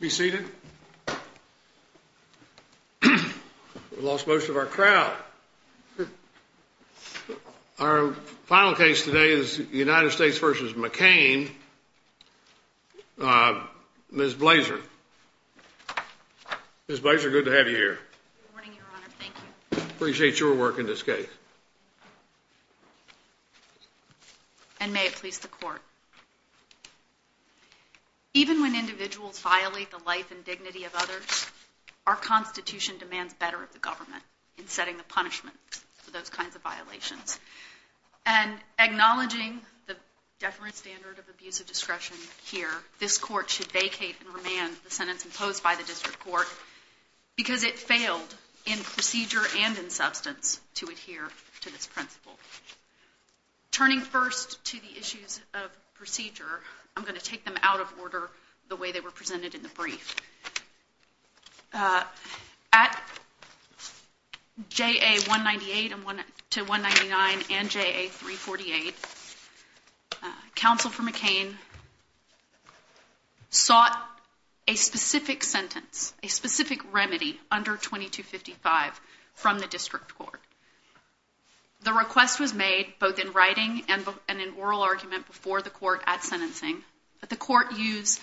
We lost most of our crowd. Our final case today is United States v. McCain. Ms. Blazer. Ms. Blazer, good to have you here. Good morning, Your Honor. Thank you. Appreciate your work in this case. And may it please the Court. Even when individuals violate the life and dignity of others, our Constitution demands better of the government in setting the punishment for those kinds of violations. And acknowledging the definite standard of abuse of discretion here, this Court should the Court. I'm going to take them out of order the way they were presented in the brief. At JA-198 to 199 and JA-348, Counsel for McCain sought a specific sentence, a specific remedy under 2255 from the District Court. The request was made both in writing and in oral argument before the Court at sentencing. The Court used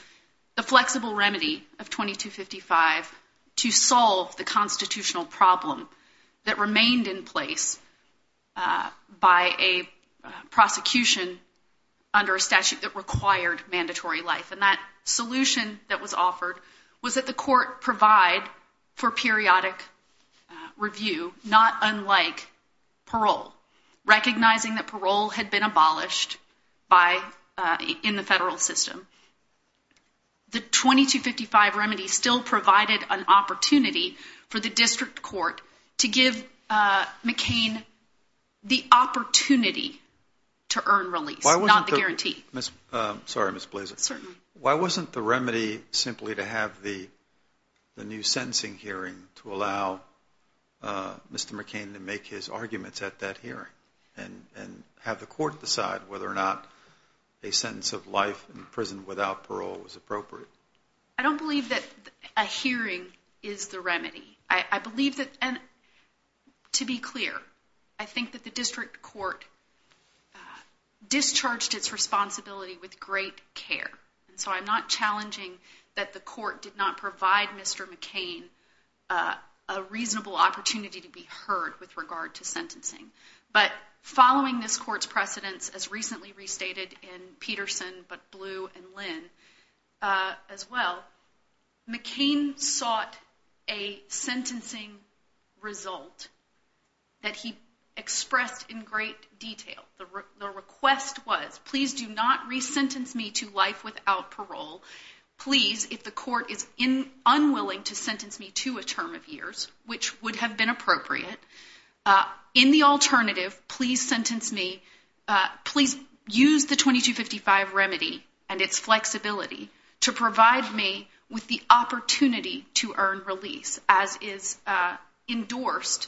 the flexible remedy of 2255 to solve the constitutional problem that remained in place by a prosecution under a statute that required mandatory life. And that solution that was offered was that the Court provide for periodic review, not unlike parole, recognizing that parole had been abolished in the federal system. The 2255 remedy still provided an opportunity for the District Court to give McCain the Why wasn't the remedy simply to have the new sentencing hearing to allow Mr. McCain to make his arguments at that hearing and have the Court decide whether or not a sentence of life in prison without parole was appropriate? I don't believe that a hearing is the remedy. I believe that, and to be clear, I think that the District Court discharged its responsibility with great care. And so I'm not challenging that the Court did not provide Mr. McCain a reasonable opportunity to be heard with regard to sentencing. But following this Court's precedence, as recently restated in Peterson, but Blue, and Lynn as well, McCain sought a sentencing result that he expressed in great detail. The request was, please do not re-sentence me to life without parole, please, if the Court is unwilling to sentence me to a term of years, which would have been appropriate, in the alternative, please sentence me, please use the 2255 remedy and its flexibility to provide me with the opportunity to earn release as is endorsed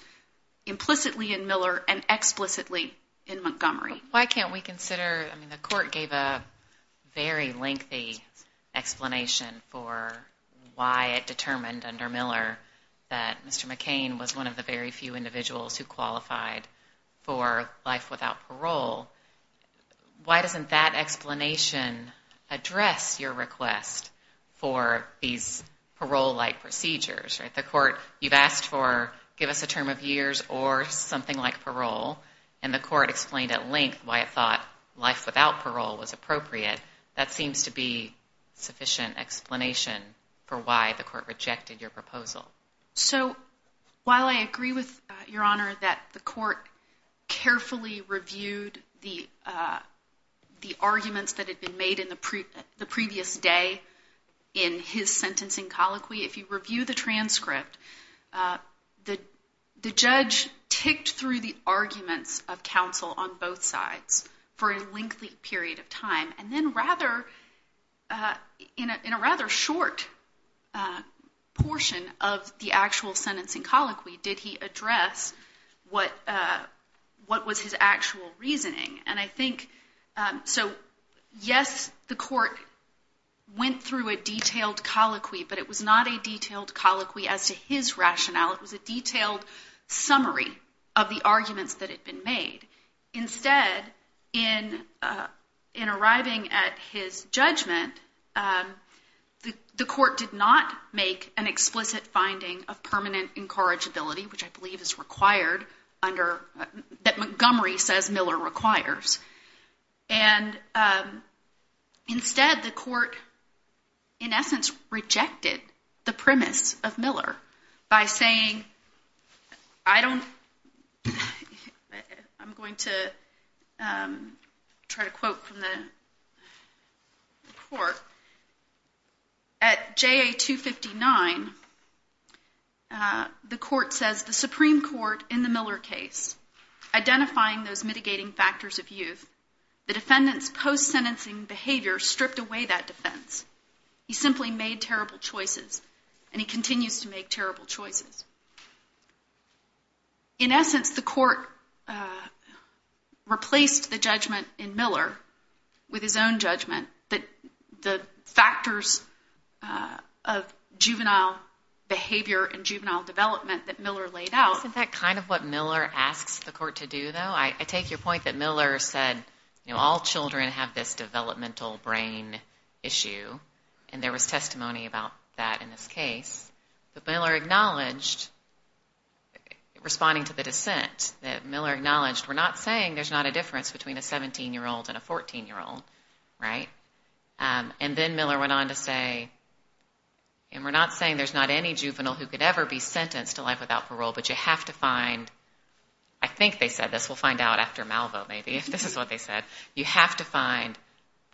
implicitly in Miller and explicitly in Montgomery. Why can't we consider, I mean the Court gave a very lengthy explanation for why it determined under Miller that Mr. McCain was one of the very few individuals who qualified for life without parole. Why doesn't that explanation address your request for these parole-like procedures? The Court, you've asked for, give us a term of years or something like parole, and the Court explained at length why it thought life without parole was appropriate. That seems to be sufficient explanation for why the Court rejected your proposal. So while I agree with Your Honor that the Court carefully reviewed the arguments that were in the transcript, the judge ticked through the arguments of counsel on both sides for a lengthy period of time, and then rather, in a rather short portion of the actual sentencing colloquy, did he address what was his actual reasoning. And I think, so yes, the Court went through a detailed colloquy, but it was not a detailed colloquy as to his rationale. It was a detailed summary of the arguments that had been made. Instead, in arriving at his judgment, the Court did not make an explicit finding of And instead, the Court, in essence, rejected the premise of Miller by saying, I don't, I'm going to try to quote from the Court. At JA 259, the Court says, the Supreme Court in the Miller case, identifying those mitigating factors of youth, the defendant's post-sentencing behavior stripped away that defense. He simply made terrible choices, and he continues to make terrible choices. In essence, the Court replaced the judgment in Miller with his own judgment that the factors of juvenile behavior and juvenile development that Miller laid out. Isn't that kind of what Miller asks the Court to do, though? I take your point that Miller said, all children have this developmental brain issue, and there was testimony about that in this case. But Miller acknowledged, responding to the dissent, that Miller acknowledged, we're not saying there's not a difference between a 17-year-old and a 14-year-old, right? And then Miller went on to say, and we're not saying there's not any juvenile who could ever be sentenced to life without parole, but you have to find, I think they said this, we'll find out after Malvo, maybe, if this is what they said, you have to find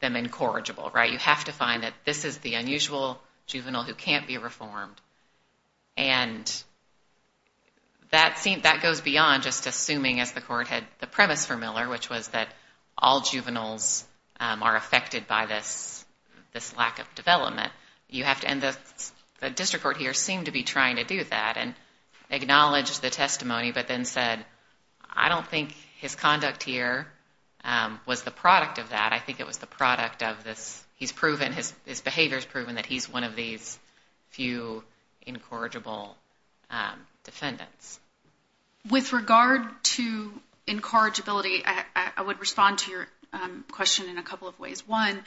them incorrigible, right? You have to find that this is the unusual juvenile who can't be reformed. And that goes beyond just assuming, as the Court had the premise for Miller, which was that all juveniles are affected by this lack of development. You have to, and the district court here seemed to be trying to do that, and acknowledged the testimony, but then said, I don't think his conduct here was the product of that. I think it was the product of this, he's proven, his behavior's proven that he's one of these few incorrigible defendants. With regard to incorrigibility, I would respond to your question in a couple of ways. One,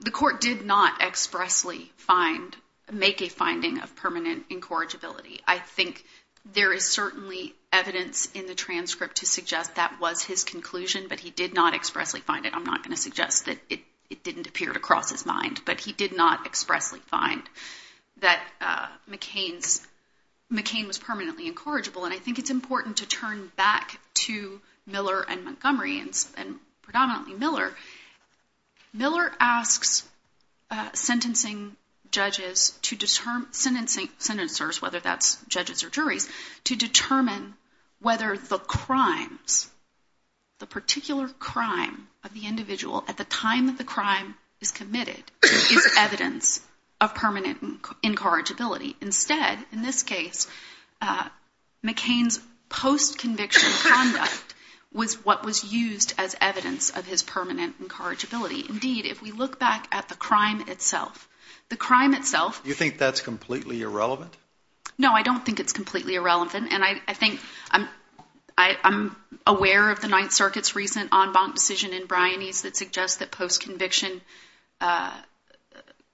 the Court did not expressly find, make a finding of permanent incorrigibility. I think there is certainly evidence in the transcript to suggest that was his conclusion, but he did not expressly find it. I'm not going to suggest that it didn't appear to cross his mind, but he did not expressly find that McCain was permanently incorrigible, and I think it's important to turn back to Miller and Montgomery, and predominantly Miller. Miller asks sentencing judges to determine, sentencers, whether that's judges or juries, to determine whether the crimes, the particular crime of the individual at the time that the crime is committed is evidence of permanent incorrigibility. Instead, in this case, McCain's post-conviction conduct was what was used as evidence of his permanent incorrigibility. Indeed, if we look back at the crime itself, the crime itself... You think that's completely irrelevant? No, I don't think it's completely irrelevant, and I think I'm aware of the Ninth Circuit's recent en banc decision in Briones that suggests that post-conviction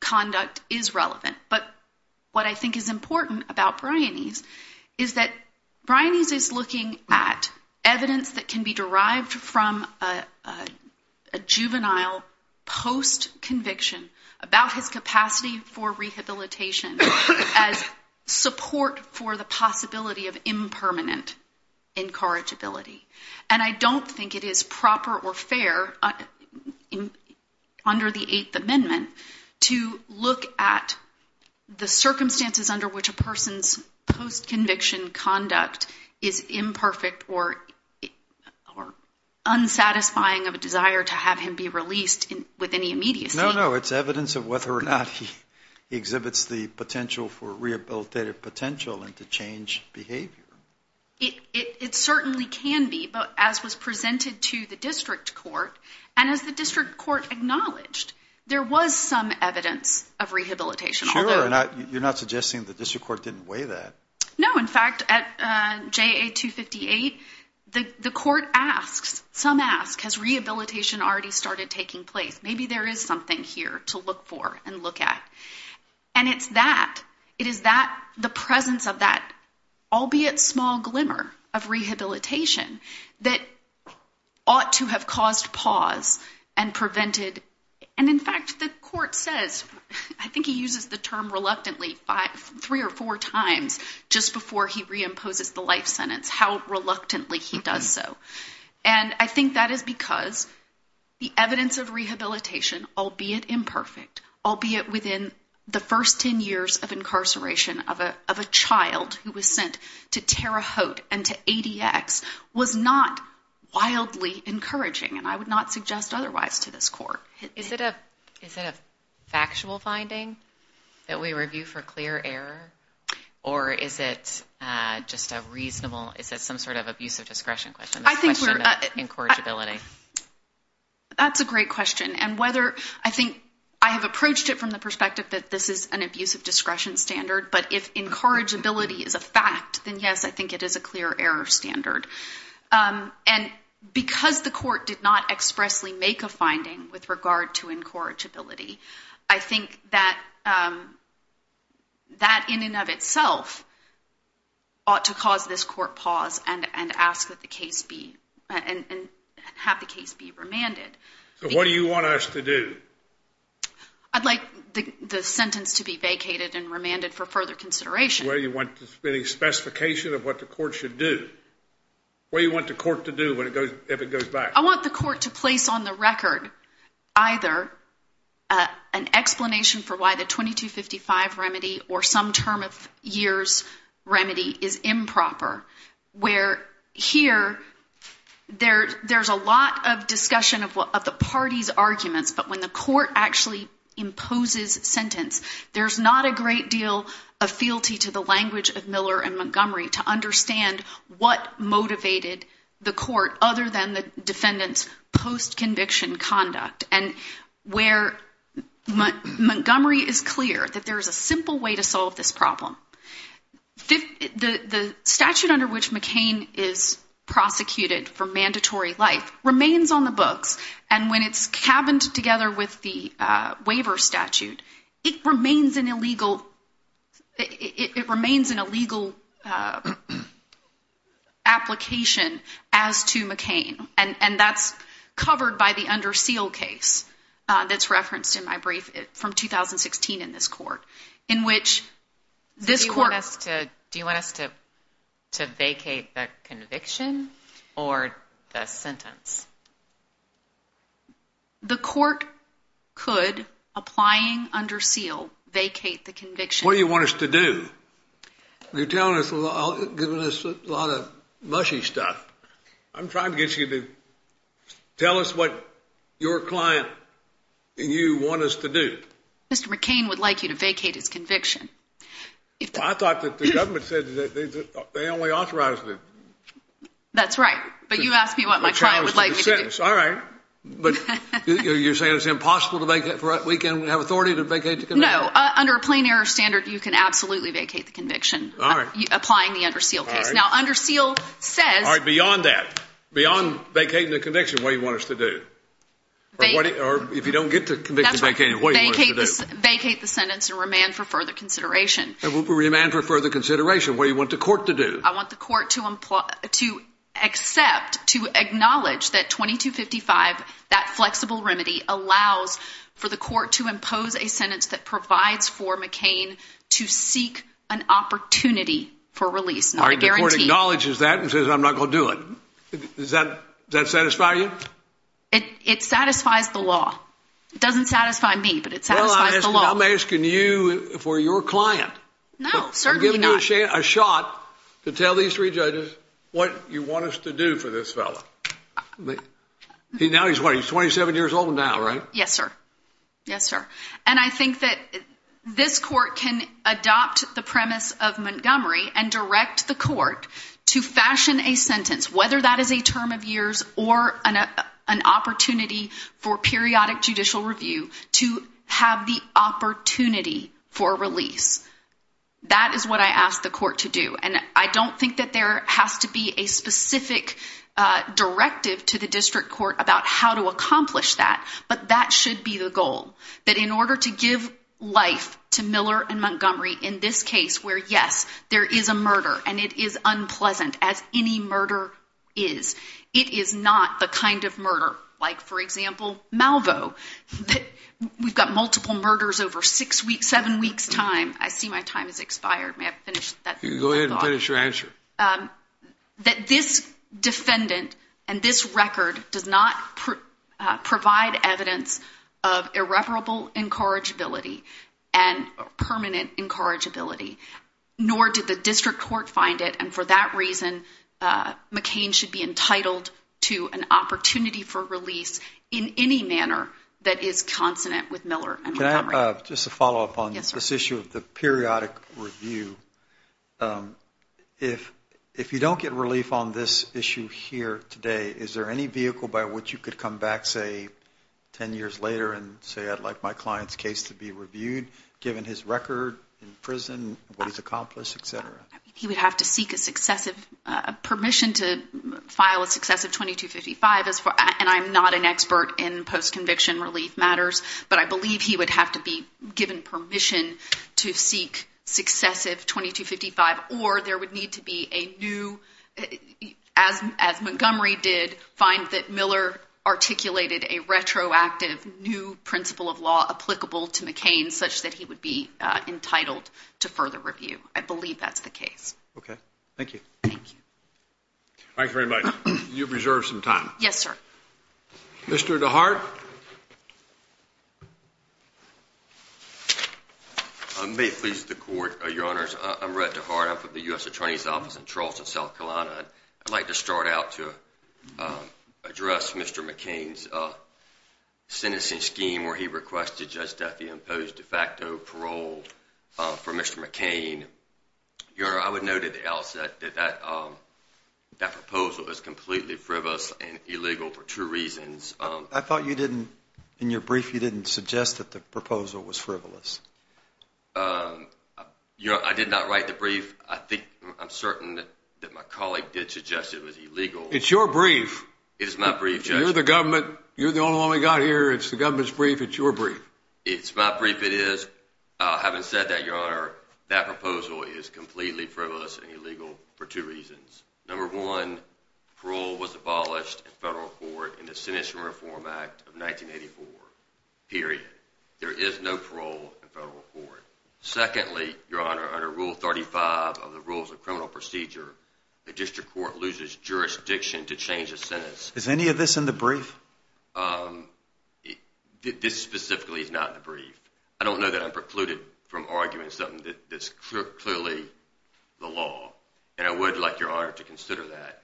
conduct is relevant, but what I think is important about Briones is that Briones is looking at evidence that juvenile post-conviction about his capacity for rehabilitation as support for the possibility of impermanent incorrigibility, and I don't think it is proper or fair under the Eighth Amendment to look at the circumstances under which a person's post-conviction conduct is with any immediacy. No, no, it's evidence of whether or not he exhibits the potential for rehabilitative potential and to change behavior. It certainly can be, but as was presented to the district court, and as the district court acknowledged, there was some evidence of rehabilitation, although... Sure, you're not suggesting the district court didn't weigh that? No, in fact, at JA 258, the court asks, some ask, has rehabilitation already started taking place? Maybe there is something here to look for and look at. And it's that, it is that, the presence of that, albeit small glimmer of rehabilitation that ought to have caused pause and prevented, and in fact the court says, I think he uses the term reluctantly three or four times just before he reimposes the life sentence, how reluctantly he does so. And I think that is because the evidence of rehabilitation, albeit imperfect, albeit within the first ten years of incarceration of a child who was sent to Terre Haute and to ADX, was not wildly encouraging, and I would not suggest otherwise to this court. Is it a factual finding that we review for clear error? Or is it just a reasonable, is it some sort of abuse of discretion question? I think we're... This question of incorrigibility. That's a great question, and whether, I think, I have approached it from the perspective that this is an abuse of discretion standard, but if incorrigibility is a fact, then yes, I think it is a clear error standard. And because the court did not expressly make a finding with regard to incorrigibility, I think that that in and of itself ought to cause this court pause and ask that the case be, and have the case be remanded. So what do you want us to do? I'd like the sentence to be vacated and remanded for further consideration. Do you want any specification of what the court should do? What do you want the court to do if it goes back? I want the court to place on the record either an explanation for why the 2255 remedy or some term of years remedy is improper, where here there's a lot of discussion of the party's arguments, but when the court actually imposes sentence, there's not a great deal of fealty to the language of Miller and Montgomery to understand what motivated the court other than the defendant's post-conviction conduct, and where Montgomery is clear that there is a simple way to solve this problem. The statute under which McCain is prosecuted for mandatory life remains on the books, and when it's cabined together with the waiver statute, it remains an illegal application as to McCain, and that's covered by the under seal case that's referenced in my brief from 2016 in this court. Do you want us to vacate the conviction or the sentence? The court could, applying under seal, vacate the conviction. What do you want us to do? You're giving us a lot of mushy stuff. I'm trying to get you to tell us what your client and you want us to do. Mr. McCain would like you to vacate his conviction. I thought that the government said that they only authorized it. That's right, but you asked me what my client would like me to do. All right, but you're saying it's impossible to vacate? We can have authority to vacate the conviction? No, under a plain air standard, you can absolutely vacate the conviction. All right. Applying the under seal case. All right. Now, under seal says. All right, beyond that, beyond vacating the conviction, what do you want us to do? Or if you don't get the conviction vacated, what do you want us to do? Vacate the sentence and remand for further consideration. Remand for further consideration. What do you want the court to do? I want the court to accept, to acknowledge that 2255, that flexible remedy, allows for the court to impose a sentence that provides for McCain to seek an opportunity for release. The court acknowledges that and says, I'm not going to do it. Does that satisfy you? It satisfies the law. It doesn't satisfy me, but it satisfies the law. Well, I'm asking you for your client. No, certainly not. Give me a shot to tell these three judges what you want us to do for this fellow. Now he's 27 years old now, right? Yes, sir. Yes, sir. And I think that this court can adopt the premise of Montgomery and direct the court to fashion a sentence, whether that is a term of years or an opportunity for periodic judicial review, to have the opportunity for release. That is what I ask the court to do. And I don't think that there has to be a specific directive to the district court about how to accomplish that, but that should be the goal. That in order to give life to Miller and Montgomery in this case where, yes, there is a murder and it is unpleasant, as any murder is, it is not the kind of murder, like, for example, Malvo, that we've got multiple murders over six weeks, seven weeks' time. I see my time has expired. May I finish that thought? Go ahead and finish your answer. That this defendant and this record does not provide evidence of irreparable incorrigibility and permanent incorrigibility, nor did the district court find it, and for that reason McCain should be entitled to an opportunity for release in any manner that is consonant with Miller and Montgomery. Can I have just a follow-up on this issue of the periodic review? If you don't get relief on this issue here today, is there any vehicle by which you could come back, say, 10 years later and say, I'd like my client's case to be reviewed, given his record in prison, what he's accomplished, et cetera? He would have to seek a permission to file a successive 2255, and I'm not an expert in post-conviction relief matters, but I believe he would have to be given permission to seek successive 2255, or there would need to be a new, as Montgomery did, find that Miller articulated a retroactive new principle of law applicable to McCain, such that he would be entitled to further review. I believe that's the case. Okay. Thank you. Thank you. Thank you very much. You have reserved some time. Yes, sir. Mr. DeHart? May it please the Court, Your Honors. I'm Rhett DeHart. I'm from the U.S. Attorney's Office in Charleston, South Carolina. I'd like to start out to address Mr. McCain's sentencing scheme, where he requested Judge Duffy impose de facto parole for Mr. McCain. Your Honor, I would note at the outset that that proposal is completely frivolous and illegal for two reasons. I thought in your brief you didn't suggest that the proposal was frivolous. I did not write the brief. I'm certain that my colleague did suggest it was illegal. It's your brief. It is my brief, Judge. You're the only one we've got here. It's the government's brief. It's your brief. It's my brief, it is. Having said that, Your Honor, that proposal is completely frivolous and illegal for two reasons. Number one, parole was abolished in federal court in the Sentencing Reform Act of 1984. Period. There is no parole in federal court. Secondly, Your Honor, under Rule 35 of the Rules of Criminal Procedure, a district court loses jurisdiction to change a sentence. Is any of this in the brief? This specifically is not in the brief. I don't know that I'm precluded from arguing something that's clearly the law. And I would like Your Honor to consider that.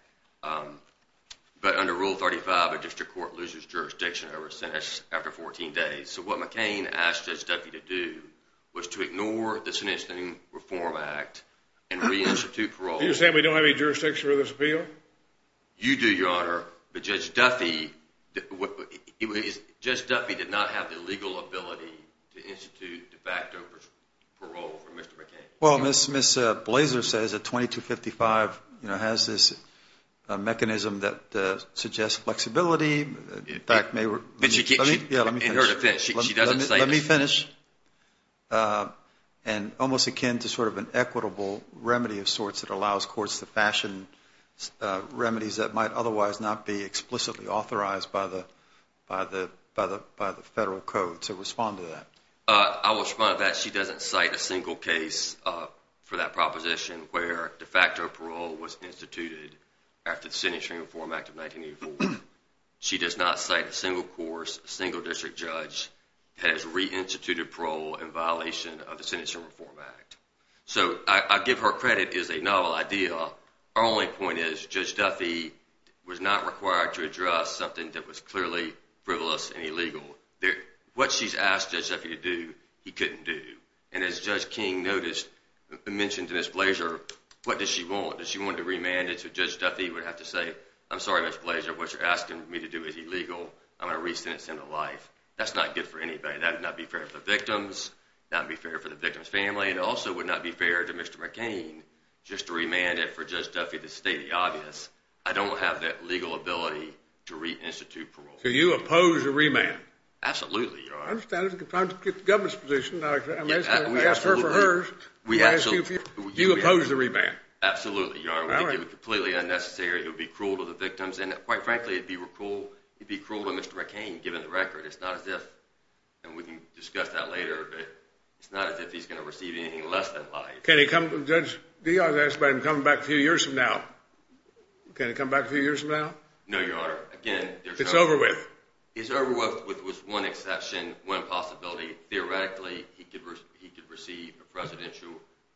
But under Rule 35, a district court loses jurisdiction over a sentence after 14 days. So what McCain asked Judge Duffy to do was to ignore the Sentencing Reform Act and reinstitute parole. You're saying we don't have any jurisdiction over this appeal? You do, Your Honor. But Judge Duffy did not have the legal ability to institute de facto parole for Mr. McCain. Well, Ms. Blaser says that 2255 has this mechanism that suggests flexibility. In fact, may we – let me finish. And almost akin to sort of an equitable remedy of sorts that allows courts to fashion remedies that might otherwise not be explicitly authorized by the federal code. So respond to that. I will respond to that. She doesn't cite a single case for that proposition where de facto parole was instituted after the Sentencing Reform Act of 1984. She does not cite a single course, a single district judge that has reinstituted parole in violation of the Sentencing Reform Act. So I give her credit as a novel idea. Our only point is Judge Duffy was not required to address something that was clearly frivolous and illegal. What she's asked Judge Duffy to do, he couldn't do. And as Judge King mentioned to Ms. Blaser, what does she want? Does she want to remand it so Judge Duffy would have to say, I'm sorry, Ms. Blaser, what you're asking me to do is illegal. I'm going to re-sentence him to life. That's not good for anybody. That would not be fair for the victims. That would not be fair for the victim's family. It also would not be fair to Mr. McCain just to remand it for Judge Duffy to state the obvious. I don't have that legal ability to reinstitute parole. So you oppose the remand? Absolutely, Your Honor. I understand. I'm trying to get the government's position. I asked her for hers. Do you oppose the remand? Absolutely, Your Honor. We think it would be completely unnecessary. It would be cruel to the victims. And quite frankly, it would be cruel to Mr. McCain, given the record. It's not as if, and we can discuss that later, but it's not as if he's going to receive anything less than life. Can he come back a few years from now? Can he come back a few years from now? No, Your Honor. It's over with? It's over with with one exception, one possibility. Theoretically, he could receive a presidential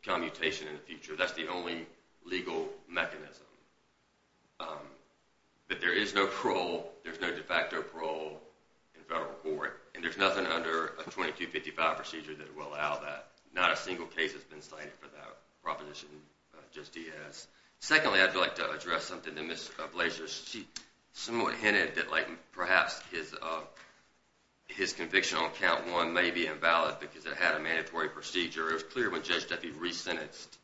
commutation in the future. That's the only legal mechanism. But there is no parole. There's no de facto parole in federal court, and there's nothing under a 2255 procedure that will allow that. Not a single case has been cited for that proposition, Judge Diaz. Secondly, I'd like to address something that Ms. Blazer somewhat hinted, that perhaps his conviction on Count 1 may be invalid because it had a mandatory procedure. It was clear when Judge Duffy re-sentenced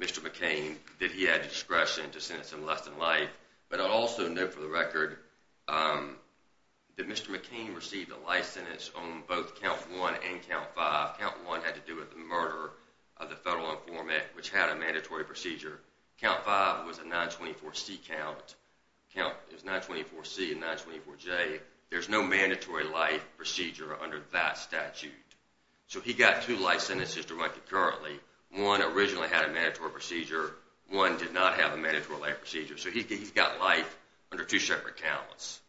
Mr. McCain that he had discretion to sentence him less than life. But I'll also note for the record that Mr. McCain received a life sentence on both Count 1 and Count 5. Count 1 had to do with the murder of the federal informant, which had a mandatory procedure. Count 5 was a 924C count. It was 924C and 924J. There's no mandatory life procedure under that statute. So he got two life sentences to run concurrently. One originally had a mandatory procedure. One did not have a mandatory life procedure. So he's got life under two separate counts.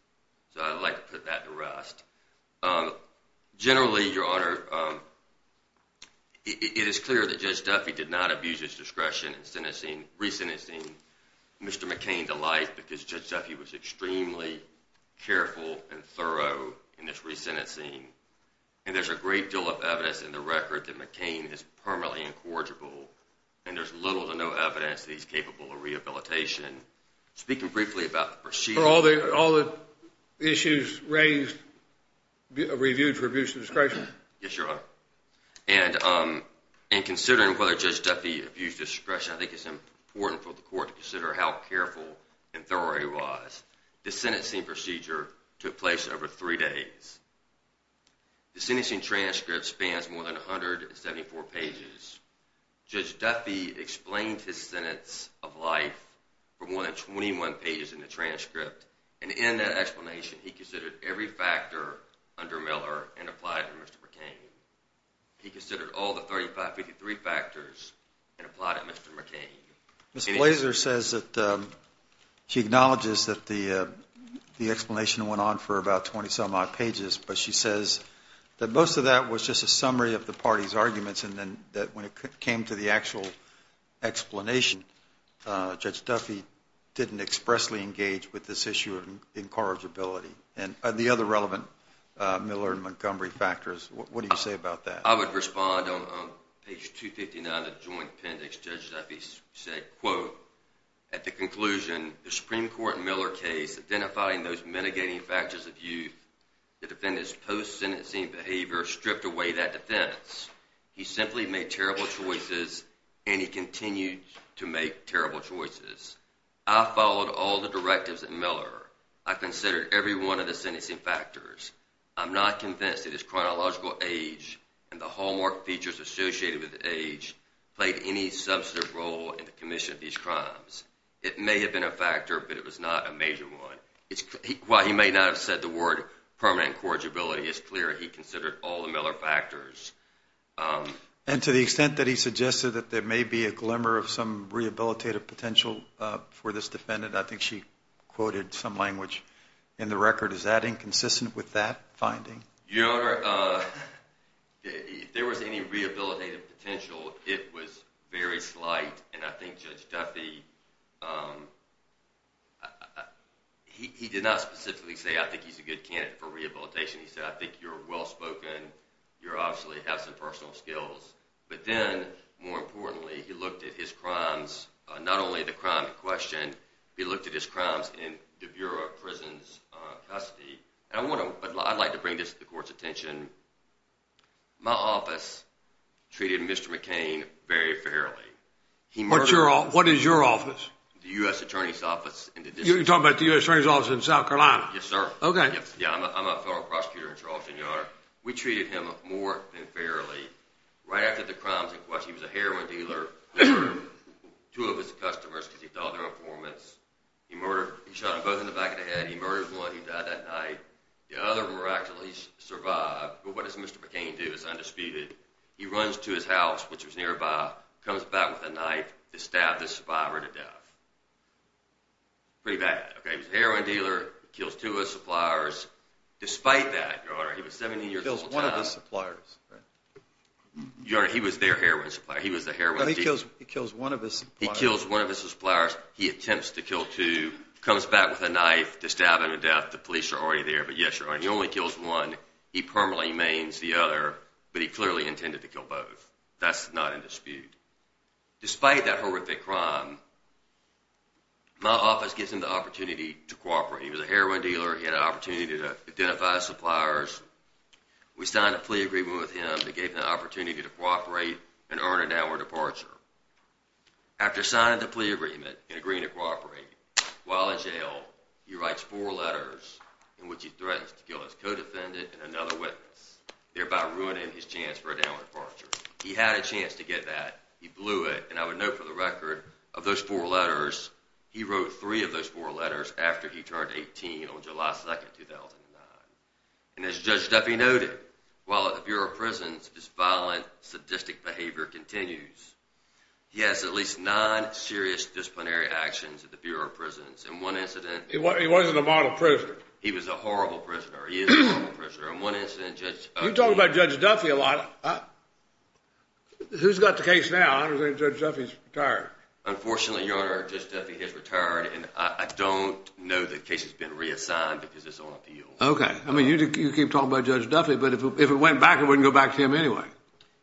So I'd like to put that to rest. Generally, Your Honor, it is clear that Judge Duffy did not abuse his discretion in re-sentencing Mr. McCain to life because Judge Duffy was extremely careful and thorough in his re-sentencing. And there's a great deal of evidence in the record that McCain is permanently incorrigible. And there's little to no evidence that he's capable of rehabilitation. Speaking briefly about the procedure. Are all the issues raised reviewed for abuse of discretion? Yes, Your Honor. And considering whether Judge Duffy abused discretion, I think it's important for the court to consider how careful and thorough he was. The sentencing procedure took place over three days. The sentencing transcript spans more than 174 pages. Judge Duffy explained his sentence of life for more than 21 pages in the transcript. And in that explanation, he considered every factor under Miller and applied it to Mr. McCain. He considered all the 3553 factors and applied it to Mr. McCain. Ms. Blazer says that she acknowledges that the explanation went on for about 20-some odd pages, but she says that most of that was just a summary of the party's arguments and that when it came to the actual explanation, Judge Duffy didn't expressly engage with this issue of incorrigibility. And the other relevant Miller and Montgomery factors, what do you say about that? I would respond on page 259 of the joint appendix. Judge Duffy said, quote, at the conclusion the Supreme Court Miller case identifying those mitigating factors of youth, the defendant's post-sentencing behavior stripped away that defense. He simply made terrible choices and he continued to make terrible choices. I followed all the directives of Miller. I considered every one of the sentencing factors. I'm not convinced that his chronological age and the hallmark features associated with age played any substantive role in the commission of these crimes. It may have been a factor, but it was not a major one. While he may not have said the word permanent incorrigibility, it's clear he considered all the Miller factors. And to the extent that he suggested that there may be a glimmer of some rehabilitative potential for this defendant, I think she quoted some language in the record. Is that inconsistent with that finding? Your Honor, if there was any rehabilitative potential, it was very slight. And I think Judge Duffy, he did not specifically say, I think he's a good candidate for rehabilitation. He said, I think you're well-spoken. You obviously have some personal skills. But then, more importantly, he looked at his crimes, not only the crime in question, he looked at his crimes in the Bureau of Prisons' custody. And I'd like to bring this to the Court's attention. My office treated Mr. McCain very fairly. What is your office? The U.S. Attorney's Office. You're talking about the U.S. Attorney's Office in South Carolina? Yes, sir. I'm a federal prosecutor in Charleston, Your Honor. We treated him more than fairly. Right after the crimes in question, he was a heroin dealer. Two of his customers, because he thought they were informants, he shot them both in the back of the head. He murdered one who died that night. The other miraculously survived. But what does Mr. McCain do? He's undisputed. He runs to his house, which was nearby, comes back with a knife to stab this survivor to death. Pretty bad. He was a heroin dealer. He kills two of his suppliers. Despite that, Your Honor, he was 17 years old at the time. He kills one of his suppliers. Your Honor, he was their heroin supplier. He was the heroin dealer. But he kills one of his suppliers. He kills one of his suppliers. He attempts to kill two, comes back with a knife to stab him to death. The police are already there. But yes, Your Honor, he only kills one. He permanently maims the other, but he clearly intended to kill both. That's not in dispute. Despite that horrific crime, my office gives him the opportunity to cooperate. He was a heroin dealer. He had an opportunity to identify his suppliers. We signed a plea agreement with him that gave him the opportunity to cooperate and earn a downward departure. After signing the plea agreement and agreeing to cooperate, while in jail, he writes four letters in which he threatens to kill his co-defendant and another witness, thereby ruining his chance for a downward departure. He had a chance to get that. He blew it. And I would note for the record, of those four letters, he wrote three of those four letters after he turned 18 on July 2, 2009. And as Judge Duffy noted, while at the Bureau of Prisons, his violent, sadistic behavior continues. He has at least nine serious disciplinary actions at the Bureau of Prisons. In one incident... He wasn't a model prisoner. He was a horrible prisoner. He is a horrible prisoner. In one incident, Judge Duffy... You talk about Judge Duffy a lot. Who's got the case now? I don't think Judge Duffy's retired. Unfortunately, Your Honor, Judge Duffy has retired, and I don't know the case has been reassigned because it's on appeal. Okay. I mean, you keep talking about Judge Duffy, but if it went back, it wouldn't go back to him anyway.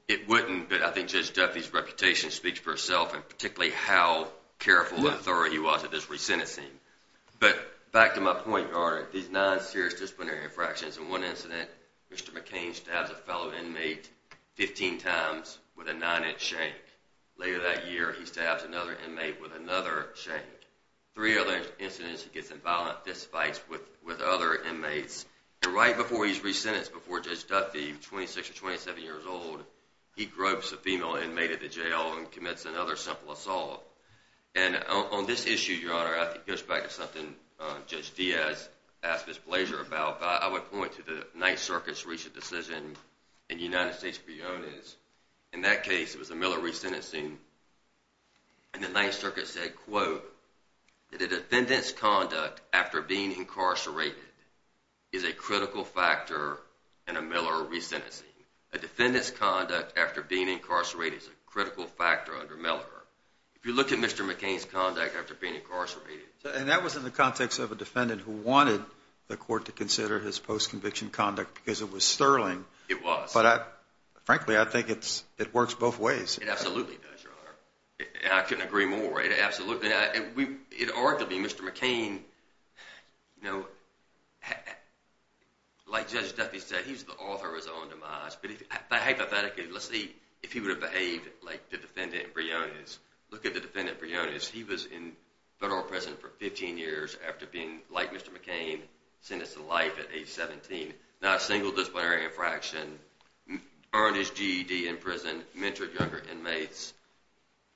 It wouldn't, but I think Judge Duffy's reputation speaks for itself, and particularly how careful and thorough he was at this re-sentencing. But back to my point, Your Honor, these nine serious disciplinary infractions. In one incident, Mr. McCain stabs a fellow inmate 15 times with a 9-inch shank. Later that year, he stabs another inmate with another shank. Three other incidents, he gets in violent fistfights with other inmates. And right before he's re-sentenced, before Judge Duffy, 26 or 27 years old, he gropes a female inmate at the jail and commits another simple assault. And on this issue, Your Honor, I think it goes back to something Judge Diaz asked his pleasure about. I would point to the Ninth Circuit's recent decision in the United States v. Ones. In that case, it was a Miller re-sentencing, and the Ninth Circuit said, quote, that a defendant's conduct after being incarcerated is a critical factor in a Miller re-sentencing. A defendant's conduct after being incarcerated is a critical factor under Melliker. If you look at Mr. McCain's conduct after being incarcerated... And that was in the context of a defendant who wanted the court to consider his post-conviction conduct because it was sterling. It was. But frankly, I think it works both ways. It absolutely does, Your Honor. And I couldn't agree more. Arguably, Mr. McCain, like Judge Duffy said, he's the author of his own demise. But hypothetically, let's see if he would have behaved like the defendant Briones. Look at the defendant Briones. He was in federal prison for 15 years after being, like Mr. McCain, sentenced to life at age 17. Not a single disciplinary infraction. Earned his GED in prison. Mentored younger inmates.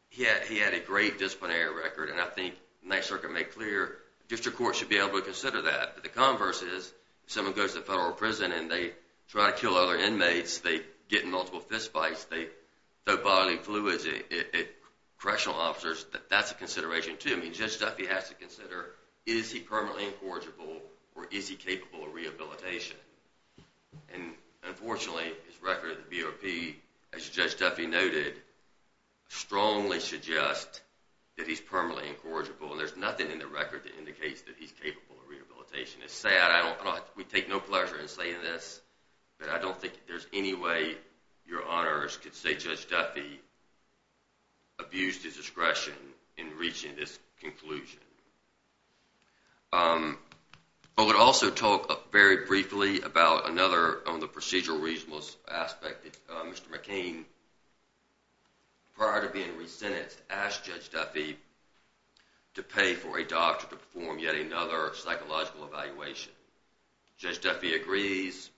He had a great disciplinary record, and I think the Ninth Circuit made clear district courts should be able to consider that. But the converse is, if someone goes to federal prison and they try to kill other inmates, they get in multiple fistfights, they throw bodily fluids at correctional officers, that's a consideration too. I mean, Judge Duffy has to consider, is he permanently incorrigible, or is he capable of rehabilitation? And unfortunately, his record at the BOP, as Judge Duffy noted, strongly suggests that he's permanently incorrigible, and there's nothing in the record that indicates that he's capable of rehabilitation. It's sad. We take no pleasure in saying this, but I don't think there's any way Your Honors could say Judge Duffy abused his discretion in reaching this conclusion. I would also talk very briefly about another procedural reasonableness aspect. Mr. McCain, prior to being re-sentenced, asked Judge Duffy to pay for a doctor to perform yet another psychological evaluation. Judge Duffy agrees.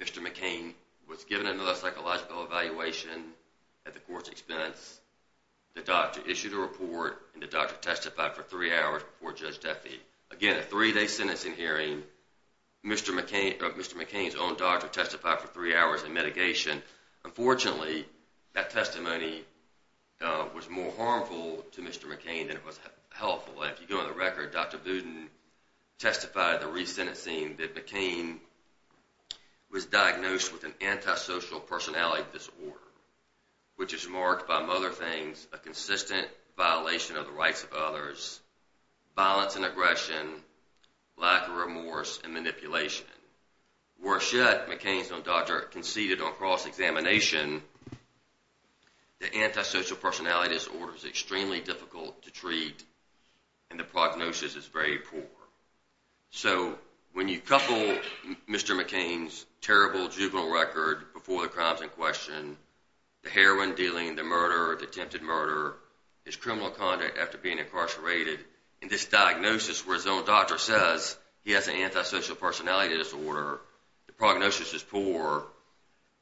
Mr. McCain was given another psychological evaluation at the court's expense. The doctor issued a report, and the doctor testified for three hours before Judge Duffy. Again, a three-day sentencing hearing, Mr. McCain's own doctor testified for three hours in mitigation. Unfortunately, that testimony was more harmful to Mr. McCain than it was helpful. If you go to the record, Dr. Budin testified at the re-sentencing that McCain was diagnosed with an antisocial personality disorder, which is marked by, among other things, a consistent violation of the rights of others, violence and aggression, lack of remorse, and manipulation. Worse yet, McCain's own doctor conceded on cross-examination that antisocial personality disorder is extremely difficult to treat and the prognosis is very poor. So when you couple Mr. McCain's terrible juvenile record before the crime's in question, the heroin dealing, the murder, the attempted murder, his criminal conduct after being incarcerated, and this diagnosis where his own doctor says he has an antisocial personality disorder, the prognosis is poor,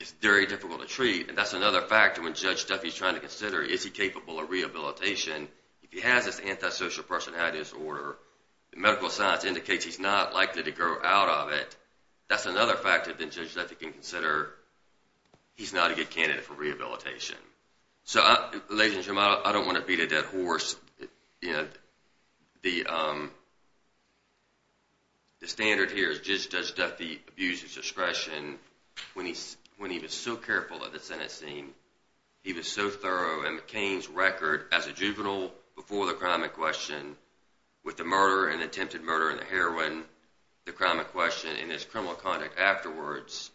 it's very difficult to treat, and that's another factor when Judge Duffy's trying to consider is he capable of rehabilitation if he has this antisocial personality disorder. Medical science indicates he's not likely to grow out of it. That's another factor that Judge Duffy can consider. He's not a good candidate for rehabilitation. So ladies and gentlemen, I don't want to beat a dead horse. The standard here is Judge Duffy abused his discretion when he was so careful at the sentencing. He was so thorough, and McCain's record as a juvenile when he was so careful before the crime in question with the murder and attempted murder and the heroin, the crime in question, and his criminal conduct afterwards.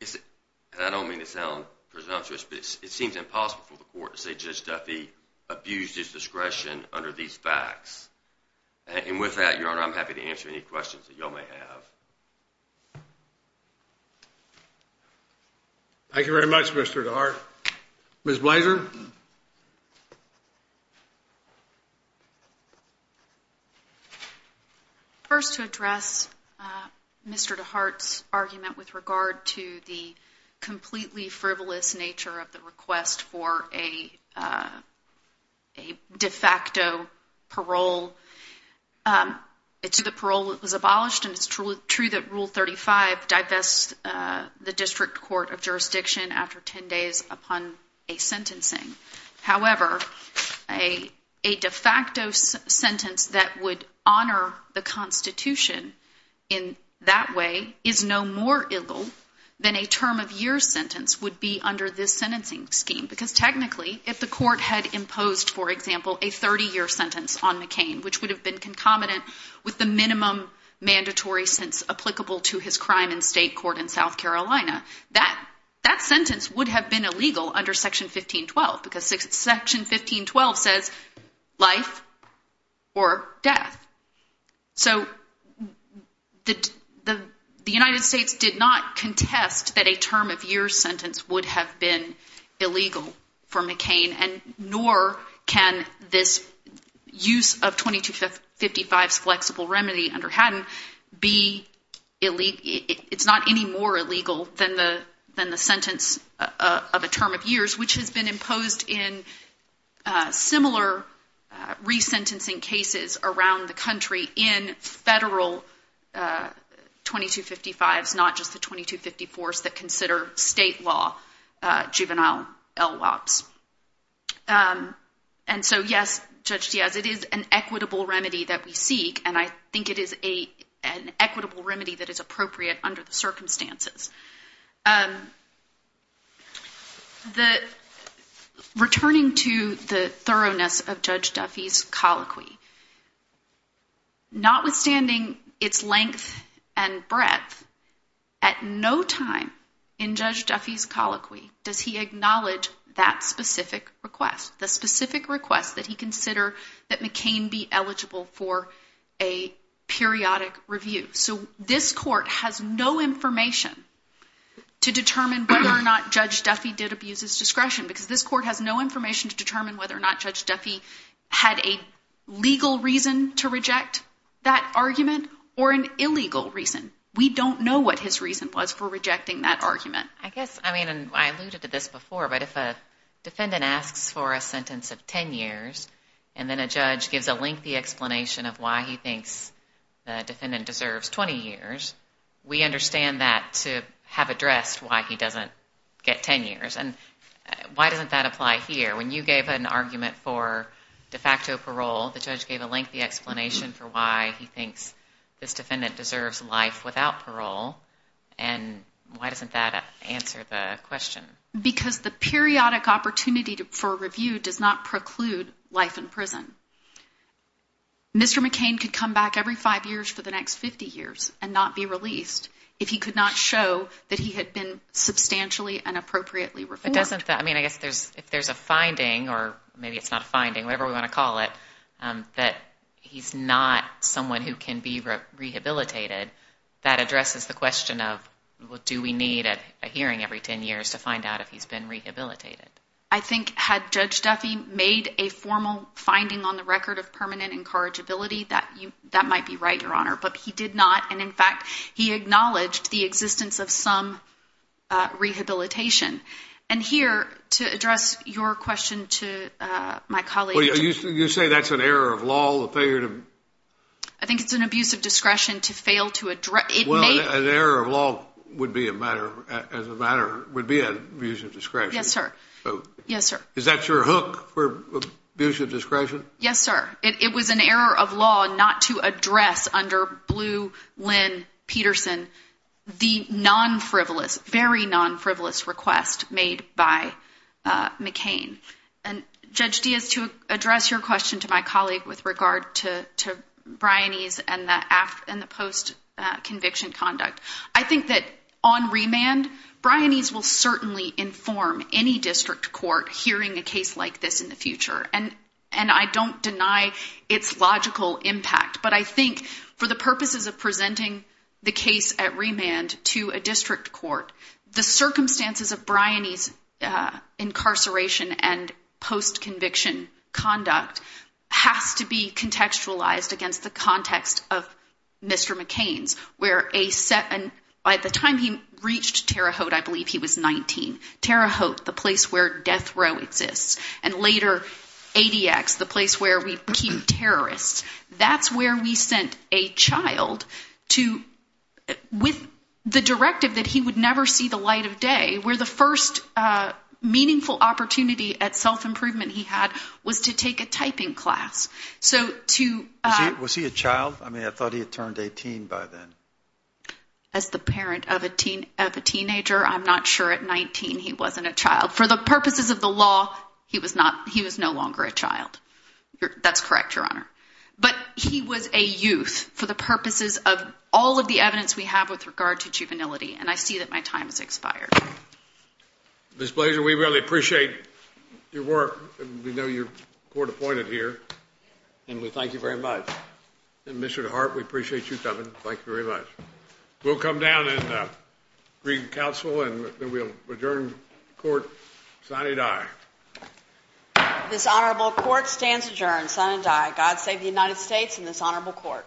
And I don't mean to sound presumptuous, but it seems impossible for the court to say Judge Duffy abused his discretion under these facts. And with that, Your Honor, I'm happy to answer any questions that you all may have. Thank you very much, Mr. DeHart. Ms. Blaser? First, to address Mr. DeHart's argument with regard to the completely frivolous nature of the request for a de facto parole, it's true that parole was abolished, and it's true that Rule 35 divests the district court of jurisdiction after 10 days upon a sentencing. However, a de facto sentence that would honor the Constitution in that way is no more ill than a term of year sentence would be under this sentencing scheme. Because technically, if the court had imposed, for example, a 30-year sentence on McCain, which would have been concomitant with the minimum mandatory sense applicable to his crime in state court in South Carolina, that sentence would have been illegal under Section 1512, because Section 1512 says life or death. So the United States did not contest that a term of year sentence would have been illegal for McCain, and nor can this use of 2255's flexible remedy under Haddon be illegal. It's not any more illegal than the sentence of a term of years, which has been imposed in similar resentencing cases around the country in federal 2255's, not just the 2254's that consider state law juvenile LWOPs. And so, yes, Judge Diaz, it is an equitable remedy that we seek, and I think it is an equitable remedy that is appropriate under the circumstances. Returning to the thoroughness of Judge Duffy's colloquy, notwithstanding its length and breadth, at no time in Judge Duffy's colloquy does he acknowledge that specific request, the specific request that he consider that McCain be eligible for a periodic review. So this court has no information to determine whether or not Judge Duffy did abuse his discretion, because this court has no information to determine whether or not Judge Duffy had a legal reason to reject that argument or an illegal reason. We don't know what his reason was for rejecting that argument. I guess, I mean, and I alluded to this before, but if a defendant asks for a sentence of 10 years and then a judge gives a lengthy explanation of why he thinks the defendant deserves 20 years, we understand that to have addressed why he doesn't get 10 years. And why doesn't that apply here? When you gave an argument for de facto parole, the judge gave a lengthy explanation for why he thinks this defendant deserves life without parole, and why doesn't that answer the question? Mr. McCain could come back every five years for the next 50 years and not be released if he could not show that he had been substantially and appropriately reformed. But doesn't that, I mean, I guess if there's a finding, or maybe it's not a finding, whatever we want to call it, that he's not someone who can be rehabilitated, that addresses the question of do we need a hearing every 10 years to find out if he's been rehabilitated? I think had Judge Duffy made a formal finding on the record of permanent incorrigibility, that might be right, Your Honor, but he did not, and in fact, he acknowledged the existence of some rehabilitation. And here, to address your question to my colleague. You say that's an error of law? I think it's an abuse of discretion to fail to address. Well, an error of law would be an abuse of discretion. Yes, sir. Yes, sir. Is that your hook for abuse of discretion? Yes, sir. It was an error of law not to address under Blue Lynn Peterson the non-frivolous, very non-frivolous request made by McCain. And Judge Diaz, to address your question to my colleague with regard to Bryanese and the post-conviction conduct, I think that on remand, Bryanese will certainly inform any district court hearing a case like this in the future, and I don't deny its logical impact, but I think for the purposes of presenting the case at remand to a district court, the circumstances of Bryanese incarceration and post-conviction conduct has to be contextualized against the context of Mr. McCain's, and by the time he reached Terre Haute, I believe he was 19. Terre Haute, the place where death row exists, and later ADX, the place where we became terrorists, that's where we sent a child to, with the directive that he would never see the light of day, where the first meaningful opportunity at self-improvement he had was to take a typing class. Was he a child? I mean, I thought he had turned 18 by then. As the parent of a teenager, I'm not sure. At 19, he wasn't a child. For the purposes of the law, he was no longer a child. That's correct, Your Honor. But he was a youth for the purposes of all of the evidence we have with regard to juvenility, and I see that my time has expired. Ms. Blaser, we really appreciate your work, and we know you're court-appointed here, and we thank you very much. And Mr. DeHart, we appreciate you coming. Thank you very much. We'll come down and read the counsel, and then we'll adjourn court. Sine die. This honorable court stands adjourned. Sine die. God save the United States and this honorable court.